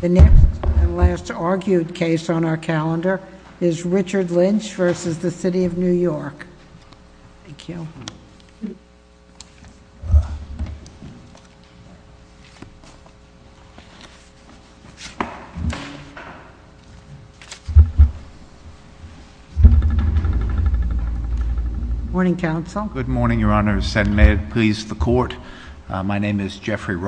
The next and last argued case on our calendar is Richard Lynch versus the City of New York. Thank you. Morning, Counsel. Good morning, Your Honor, and may it please the Court. My name is Plaintiff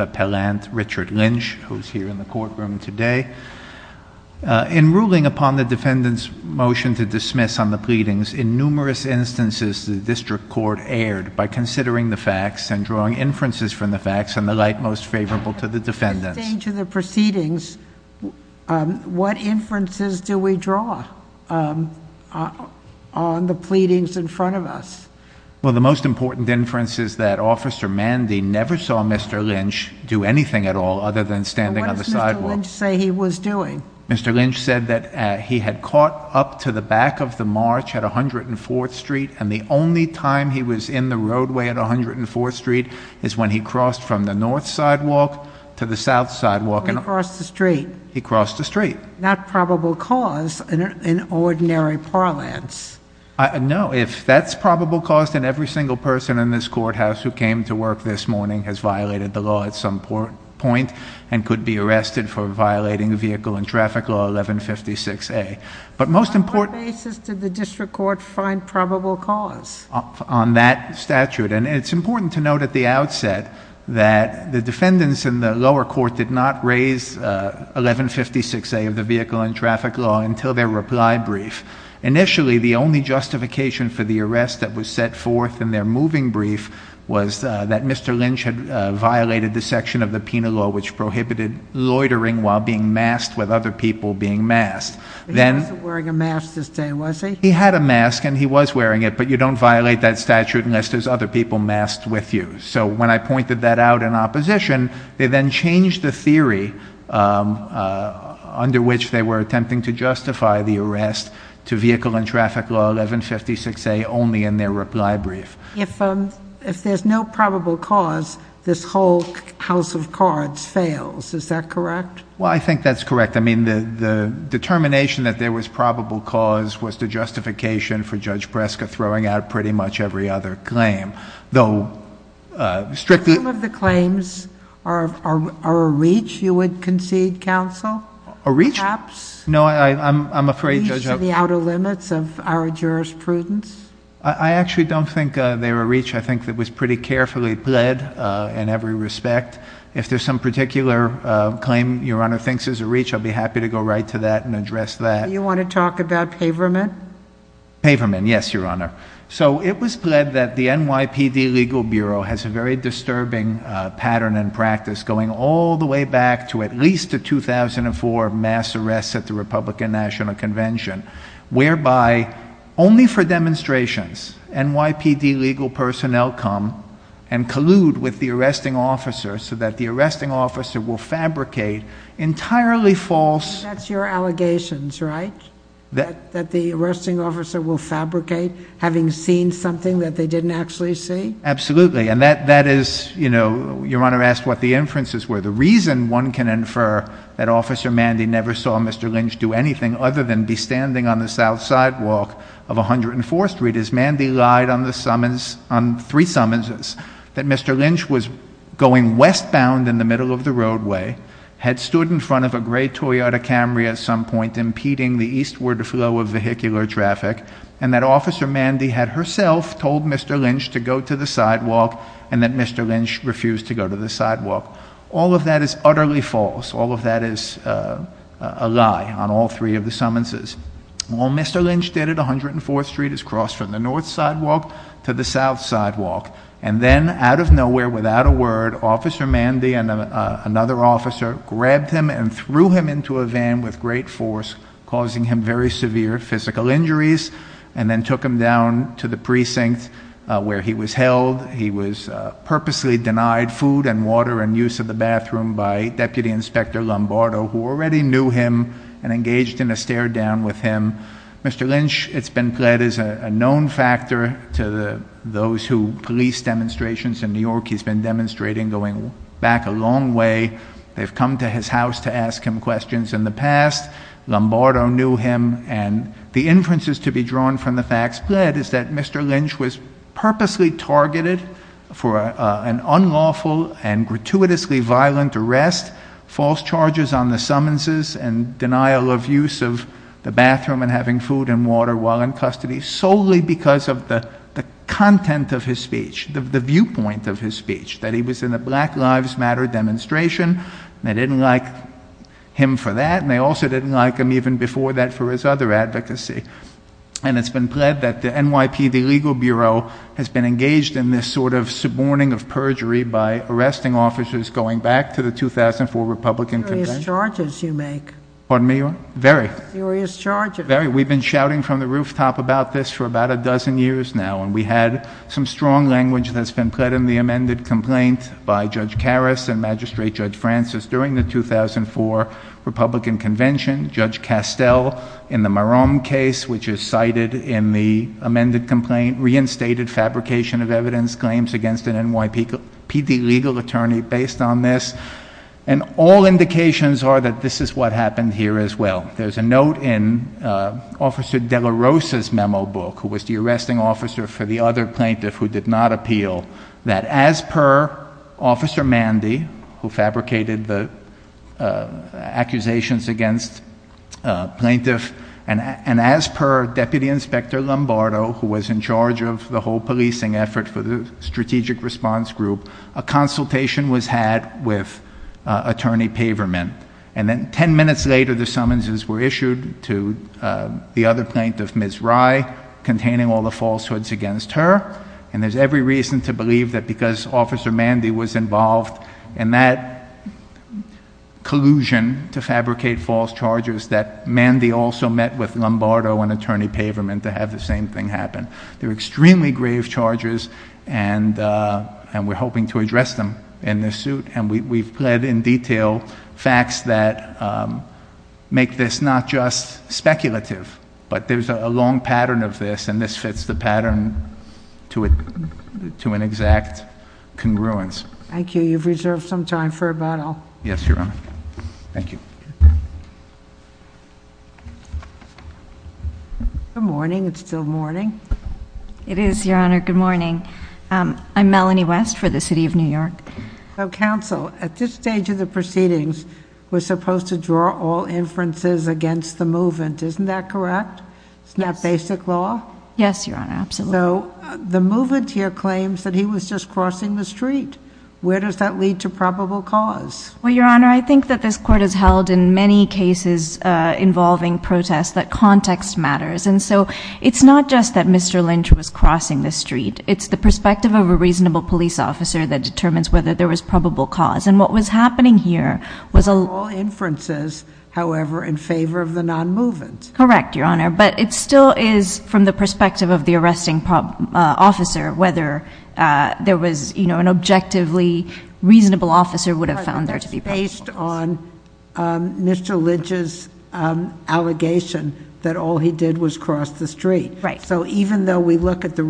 Appellant Richard Lynch, who is here in the courtroom today. In ruling upon the defendant's motion to dismiss on the pleadings, in numerous instances the District Court erred by considering the facts and drawing inferences from the facts and the like most favorable to the defendants. At this stage of the proceedings, what inferences do we draw on the pleadings in front of us? Well, the most important inference is that Officer Mandy never saw Mr. Lynch do anything at all other than standing on the sidewalk. What does Mr. Lynch say he was doing? Mr. Lynch said that he had caught up to the back of the march at 104th Street, and the only time he was in the roadway at 104th Street is when he crossed from the north sidewalk to the south sidewalk. He crossed the street. He crossed the street. Not probable cause in ordinary parlance. No, if that's probable cause, then every single person in this courthouse who came to work this morning had a vehicle in traffic law at some point and could be arrested for violating vehicle and traffic law 1156A. But most important... On what basis did the District Court find probable cause? On that statute. And it's important to note at the outset that the defendants in the lower court did not raise 1156A of the vehicle and traffic law until their reply brief. Initially, the only section of the penal law which prohibited loitering while being masked with other people being masked. He wasn't wearing a mask this day, was he? He had a mask and he was wearing it, but you don't violate that statute unless there's other people masked with you. So when I pointed that out in opposition, they then changed the theory under which they were attempting to justify the arrest to vehicle and traffic law 1156A only in their reply brief. If there's no probable cause, this whole house of cards fails, is that correct? Well, I think that's correct. I mean, the determination that there was probable cause was the justification for Judge Breska throwing out pretty much every other claim, though strictly... Some of the claims are a reach you would concede, counsel? A reach? Perhaps? No, I'm afraid... To the outer limits of our jurisprudence? I actually don't think they were reach. I think that was pretty carefully pled in every respect. If there's some particular claim your honor thinks is a reach, I'll be happy to go right to that and address that. You want to talk about paverment? Paverment, yes, your honor. So it was pled that the NYPD Legal Bureau has a very disturbing pattern and practice going all the way back to at least the 2004 mass arrests at the Republican National Convention, whereby only for demonstrations, NYPD legal personnel come and collude with the arresting officer so that the arresting officer will fabricate entirely false... And that's your allegations, right? That the arresting officer will fabricate having seen something that they didn't actually see? Absolutely, and that is... Your honor asked what the inferences were. The reason one can infer that Officer Mandy never saw Mr. Lynch do anything other than be standing on the south sidewalk of 104th Street is Mandy lied on three summonses that Mr. Lynch was going westbound in the middle of the roadway, had stood in front of a gray Toyota Camry at some point impeding the eastward flow of vehicular traffic, and that Officer Mandy had herself told Mr. Lynch to go to the sidewalk and that Mr. Lynch refused to go to the sidewalk. All of that is utterly false. All of that is a lie on all three of the summonses. All Mr. Lynch did at 104th Street is cross from the north sidewalk to the south sidewalk, and then out of nowhere, without a word, Officer Mandy and another officer grabbed him and threw him into a van with great force, causing him very severe physical injuries, and then took him down to the precinct where he was held. He was purposely denied food and water and use of the bathroom by Deputy Inspector Lombardo, who already knew him and engaged in a stare down with him. Mr. Lynch, it's been pled as a known factor to those who police demonstrations in New York. He's been demonstrating going back a long way. They've his house to ask him questions in the past. Lombardo knew him, and the inferences to be drawn from the facts pled is that Mr. Lynch was purposely targeted for an unlawful and gratuitously violent arrest, false charges on the summonses, and denial of use of the bathroom and having food and water while in custody solely because of the content of his speech, the viewpoint of his speech, that he was in a Black Lives Matter demonstration. They didn't like him for that, and they also didn't like him even before that for his other advocacy, and it's been pled that the NYPD Legal Bureau has been engaged in this sort of suborning of perjury by arresting officers going back to the 2004 Republican campaign. Serious charges you make. Pardon me? Very. Serious charges. Very. We've been shouting from the rooftop about this for about a dozen years now, and we had some strong language that's been pled in the amended complaint by Judge Karras and Magistrate Judge Francis during the 2004 Republican convention. Judge Castell in the Maram case, which is cited in the amended complaint, reinstated fabrication of evidence claims against an NYPD legal attorney based on this, and all indications are that this is what happened here as well. There's a note in Officer De La Rosa's memo book, who was the arresting for the other plaintiff who did not appeal, that as per Officer Mandy, who fabricated the accusations against plaintiff, and as per Deputy Inspector Lombardo, who was in charge of the whole policing effort for the strategic response group, a consultation was had with Attorney Paverman, and then ten minutes later, the summonses were issued to the other plaintiff, Ms. Rye, containing all the falsehoods against her, and there's every reason to believe that because Officer Mandy was involved in that collusion to fabricate false charges, that Mandy also met with Lombardo and Attorney Paverman to have the same thing happen. They're extremely grave charges, and we're hoping to address them in this suit, and we've pled in detail facts that make this not just speculative, but there's a long pattern of this, and this fits the pattern to an exact congruence. Thank you. You've reserved some time for about all. Yes, Your Honor. Thank you. Good morning. It's still morning. It is, Your Honor. Good morning. I'm Melanie West for the City of New York. So, counsel, at this stage of the proceedings, we're supposed to draw all inferences against the movement. Isn't that correct? It's not basic law? Yes, Your Honor. Absolutely. So, the movement here claims that he was just crossing the street. Where does that lead to probable cause? Well, Your Honor, I think that this Court has held in many cases involving protests that context matters, and so it's not just that Mr. Lynch was crossing the street. It's the perspective of a reasonable police officer that determines whether there was probable cause, and what was happening here was... All inferences, however, in favor of the non-movement. Correct, Your Honor, but it still is from the perspective of the arresting officer whether there was, you know, an objectively reasonable officer would have found there to be probable cause. Based on Mr. Lynch's allegation that all he did was cross the street. Right. So, even though we look at the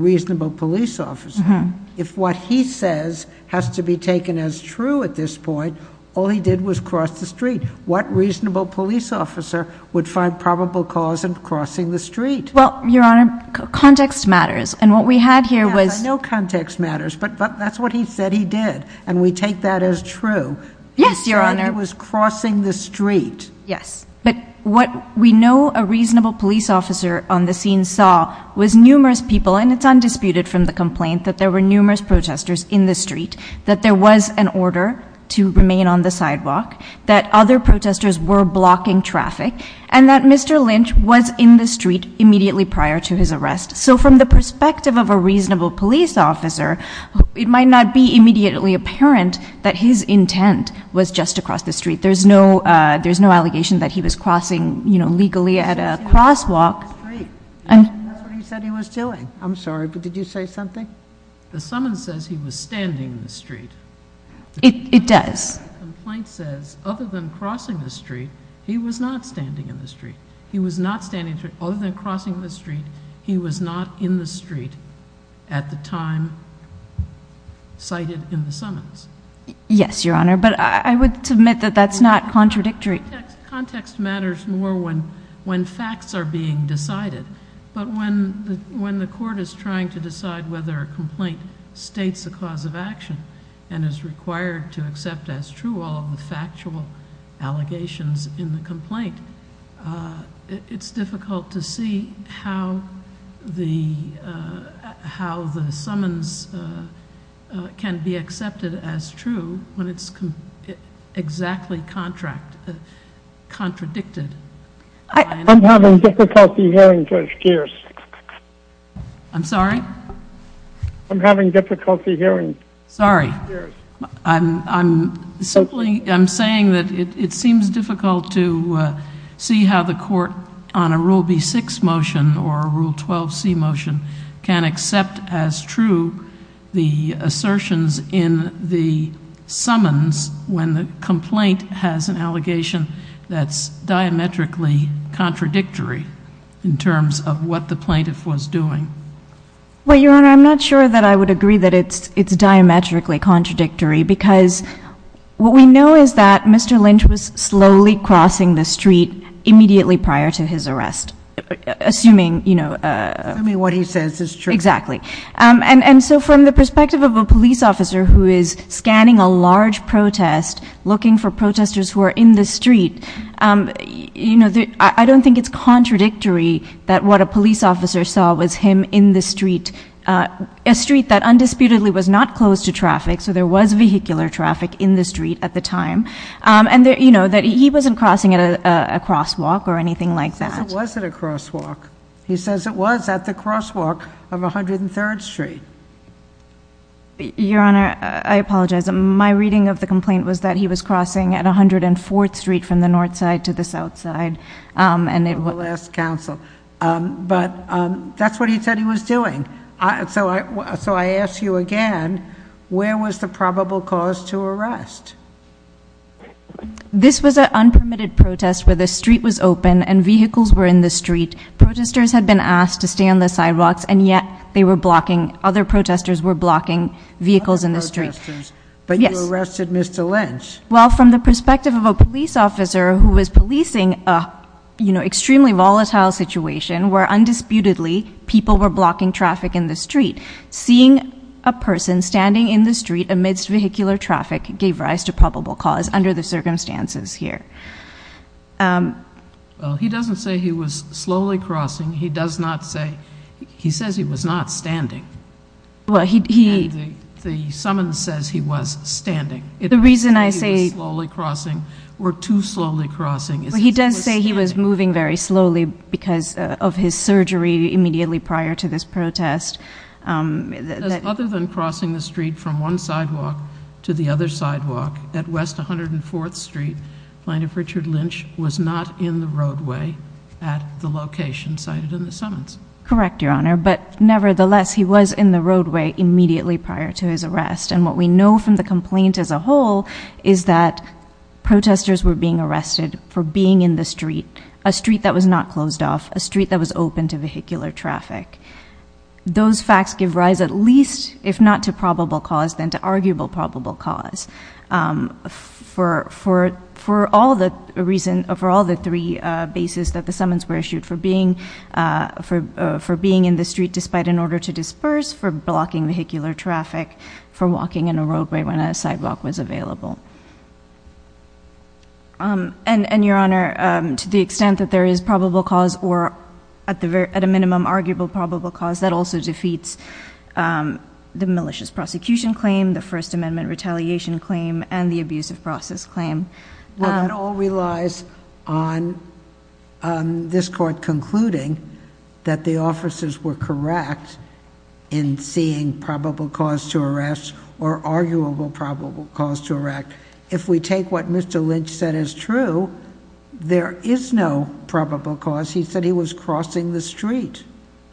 if what he says has to be taken as true at this point, all he did was cross the street. What reasonable police officer would find probable cause in crossing the street? Well, Your Honor, context matters, and what we had here was... Yes, I know context matters, but that's what he said he did, and we take that as true. Yes, Your Honor. He said he was crossing the street. Yes, but what we know a reasonable police officer on the scene saw was numerous people, and it's undisputed from the complaint that there were numerous protesters in the street, that there was an order to remain on the sidewalk, that other protesters were blocking traffic, and that Mr. Lynch was in the street immediately prior to his arrest. So, from the perspective of a reasonable police officer, it might not be immediately apparent that his intent was just to cross the street. There's no allegation that he was crossing, you know, legally at a crosswalk. That's what he said he was doing. I'm sorry, but did you say something? The summons says he was standing in the street. It does. The complaint says other than crossing the street, he was not standing in the street. He was not standing, other than crossing the street, he was not in the street at the time cited in the summons. Yes, Your Honor, but I would submit that that's not contradictory. Context matters more when facts are being decided, but when the court is trying to decide whether a complaint states a cause of action and is required to accept as true all of the factual allegations in the complaint, it's difficult to see how the summons can be accepted as true when it's exactly contradicted. I'm having difficulty hearing, Judge Geers. I'm sorry? I'm having difficulty hearing. Sorry. I'm saying that it seems difficult to see how the court on a Rule B6 motion or a Rule 12c motion can accept as true the assertions in the summons when the complaint has an allegation that's diametrically contradictory in terms of what the plaintiff was doing. Well, Your Honor, I'm not sure that I would agree that it's diametrically contradictory because what we know is that Mr. Lynch was slowly crossing the street immediately prior to his arrest, assuming what he says is true. Exactly, and so from the perspective of a police officer who is scanning a large protest, looking for protesters who are in the street, I don't think it's contradictory that what a police officer saw was him in the street, a street that undisputedly was not closed to traffic, so there was vehicular traffic in the street at the time, and that he wasn't crossing at a crosswalk or anything like that. He says it wasn't a crosswalk. He says it was at the crosswalk of 103rd Street. Your Honor, I apologize. My reading of the complaint was that he was crossing at 104th Street from the north side to the south side. We'll ask counsel. But that's what he said he was doing. So I ask you again, where was the probable cause to arrest? This was an unpermitted protest where the street was open and vehicles were in the street. Protestors had been asked to stay on the sidewalks, and yet they were blocking, other protesters were blocking vehicles in the street. But you arrested Mr. Lynch. Well, from the perspective of a police officer who was policing an extremely volatile situation where undisputedly people were blocking traffic in the street, seeing a person standing in the street amidst vehicular traffic gave rise to probable cause under the circumstances here. Well, he doesn't say he was slowly crossing. He does not say, he says he was not standing. Well, he, he, the summons says he was standing. The reason I say he was slowly crossing were too slowly crossing. He does say he was moving very slowly because of his surgery immediately prior to this protest. Other than crossing the street from one sidewalk to the other sidewalk at West 104th Street, plaintiff Richard Lynch was not in the roadway at the location cited in the summons. Correct, your honor. But nevertheless, he was in the roadway immediately prior to his arrest. And what we know from the complaint as a whole is that protesters were being arrested for being in the street, a street that was not closed off, a street that was open to vehicular traffic. Those facts give rise at least, if not to probable cause, then to arguable probable cause. For, for, for all the reason, for all the three bases that the summons were issued for being, for, for being in the street despite an order to And, and your honor, to the extent that there is probable cause or at the, at a minimum arguable probable cause that also defeats the malicious prosecution claim, the first amendment retaliation claim and the abuse of process claim. Well, that all relies on this court concluding that the officers were correct in seeing probable cause to arrest or arguable probable cause to erect. If we take what Mr. Lynch said is true, there is no probable cause. He said he was crossing the street.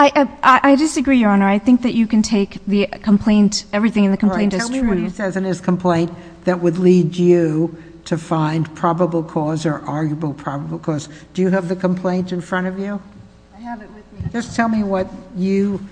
I, I disagree, your honor. I think that you can take the complaint, everything in the complaint is true. Tell me what he says in his complaint that would lead you to find probable cause or arguable probable cause. Do you have the complaint in front of you? Just tell me what you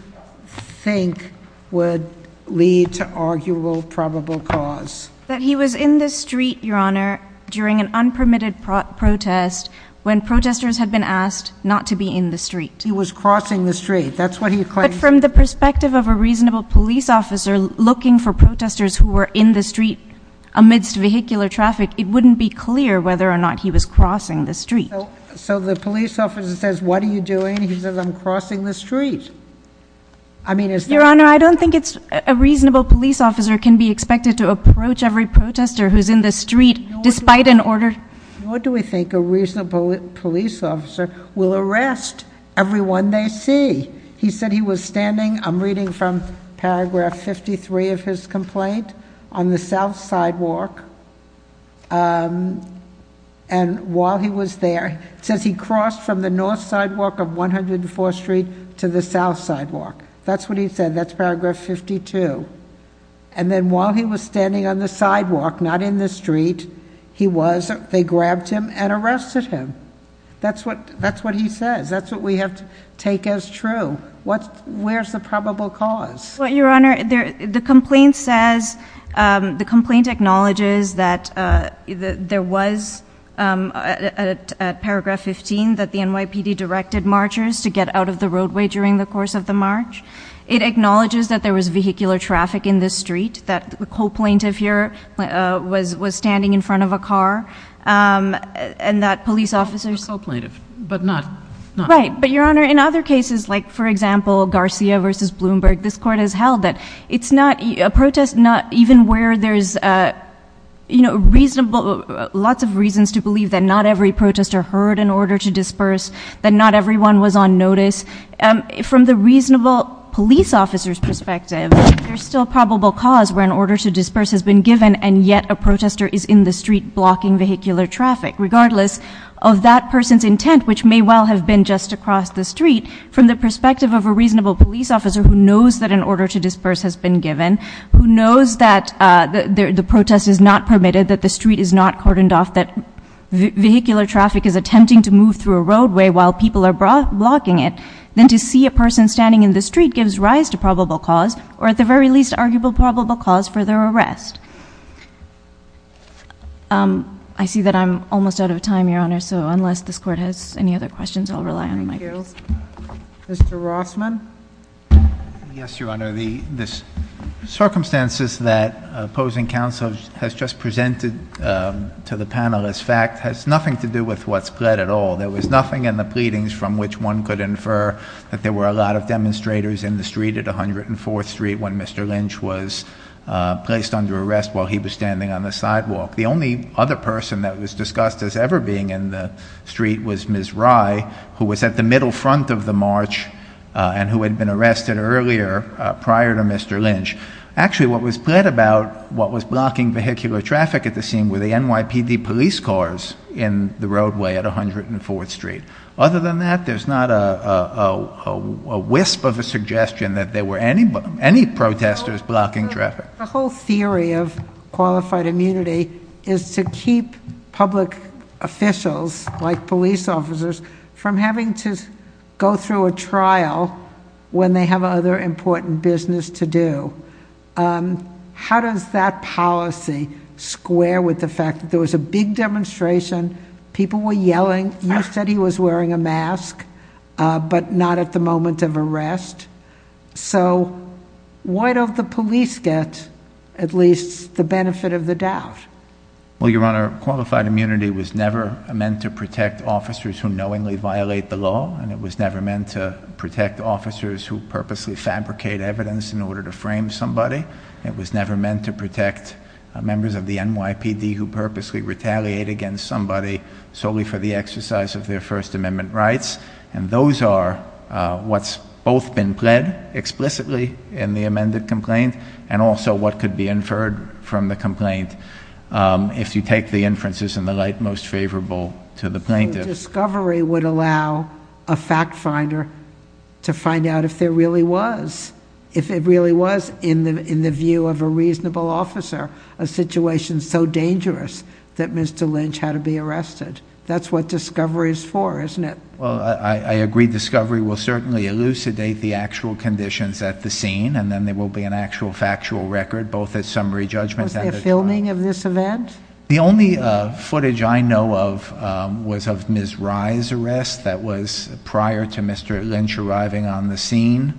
think would lead to arguable probable cause. That he was in the street, your honor, during an unpermitted protest when protesters had been asked not to be in the street. He was crossing the street. That's what he claimed. But from the perspective of a reasonable police officer looking for protesters who were in the street amidst vehicular traffic, it wouldn't be clear whether or not he was crossing the street. So the police officer says, what are you doing? He says, I'm crossing the street. I mean, it's your honor. I don't think it's a reasonable police officer can be expected to approach every protester who's in the street despite an order. What do we think a reasonable police officer will arrest everyone they see? He said he was standing. I'm reading from paragraph 53 of his complaint on the south sidewalk. And while he was there, it says he crossed from the north sidewalk of 104th Street to the south sidewalk. That's what he said. That's paragraph 52. And then while he was standing on the sidewalk, not in the street, he was, they grabbed him and arrested him. That's what, that's what he says. That's what we have to take as true. What, where's the probable cause? Your honor, the complaint says, the complaint acknowledges that there was at paragraph 15 that the NYPD directed marchers to get out of the roadway during the course of the march. It acknowledges that there was vehicular traffic in the street, that the co-plaintiff here was standing in front of a car. And that police officers. But not. Right. But your honor, in other cases, like for example, Garcia versus Bloomberg, this court has held that it's not a protest, not even where there's, you know, reasonable, lots of reasons to believe that not every protester heard an order to disperse, that not everyone was on notice. From the reasonable police officer's perspective, there's still probable cause where an order to disperse has been given. And yet a protester is in the street blocking vehicular traffic, regardless of that person's intent, which may well have been just across the street, from the perspective of a reasonable police officer who knows that an order to disperse has been given, who knows that the protest is not permitted, that the street is not cordoned off, that vehicular traffic is attempting to move through a roadway while people are blocking it, then to see a person standing in the street gives rise to probable cause, or at the very least, arguable probable cause for their arrest. I see that I'm almost out of time, Your Honor, so unless this court has any other questions, I'll rely on the mic. Thank you. Mr. Rossman? Yes, Your Honor. The circumstances that opposing counsel has just presented to the panel as fact has nothing to do with what's pled at all. There was nothing in the pleadings from which one could infer that there were a lot of demonstrators in the street at 104th Street when Mr. Lynch was placed under arrest while he was standing on the sidewalk. The only other person that was discussed as ever being in the street was Ms. Rye, who was at the middle front of the march and who had been arrested earlier, prior to Mr. Lynch. Actually, what was pled about what was blocking vehicular traffic at the scene were the NYPD police cars in the roadway at 104th Street. Other than that, there's not a wisp of a suggestion that there were any protesters blocking traffic. The whole theory of qualified immunity is to keep public officials, like police officers, from having to go through a trial when they have other important business to do. How does that policy square with the fact there was a big demonstration, people were yelling, you said he was wearing a mask, but not at the moment of arrest. So why don't the police get at least the benefit of the doubt? Well, Your Honor, qualified immunity was never meant to protect officers who knowingly violate the law, and it was never meant to protect officers who purposely fabricate evidence in to protect members of the NYPD who purposely retaliate against somebody solely for the exercise of their First Amendment rights. And those are what's both been pled explicitly in the amended complaint, and also what could be inferred from the complaint, if you take the inferences in the light most favorable to the plaintiff. Discovery would allow a fact finder to find out if there really was, if it really was, in the view of a reasonable officer, a situation so dangerous that Mr. Lynch had to be arrested. That's what Discovery is for, isn't it? Well, I agree. Discovery will certainly elucidate the actual conditions at the scene, and then there will be an actual factual record, both at summary judgment. Was there filming of this event? The only footage I know of was of Ms. Rye's arrest that was prior to Mr. Lynch arriving on the scene.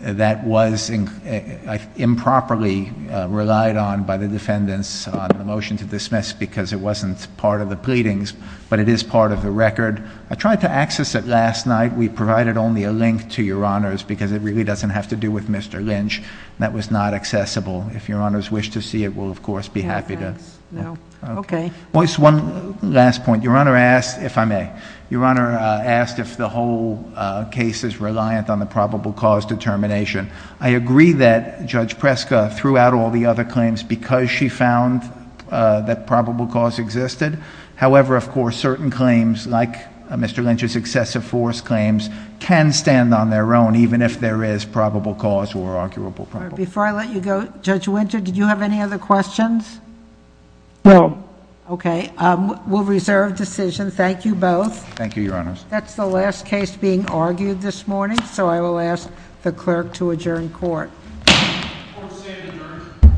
That was improperly relied on by the defendants on the motion to dismiss, because it wasn't part of the pleadings, but it is part of the record. I tried to access it last night. We provided only a link to Your Honors, because it really doesn't have to do with Mr. Lynch. That was not accessible. If Your Honors wish to see it, we'll, of course, be happy to. No, thanks. No. Okay. Well, it's one last point. Your Honor asked, if I may, Your Honor asked if the whole case is reliant on the probable cause determination. I agree that Judge Preska threw out all the other claims because she found that probable cause existed. However, of course, certain claims, like Mr. Lynch's excessive force claims, can stand on their own, even if there is probable cause or arguable problem. Before I let you go, Judge Winter, did you have any other questions? No. Okay. We'll reserve decision. Thank you both. Thank you, Your Honors. That's the last case being argued this morning, so I will ask the clerk to adjourn court. Court is adjourned.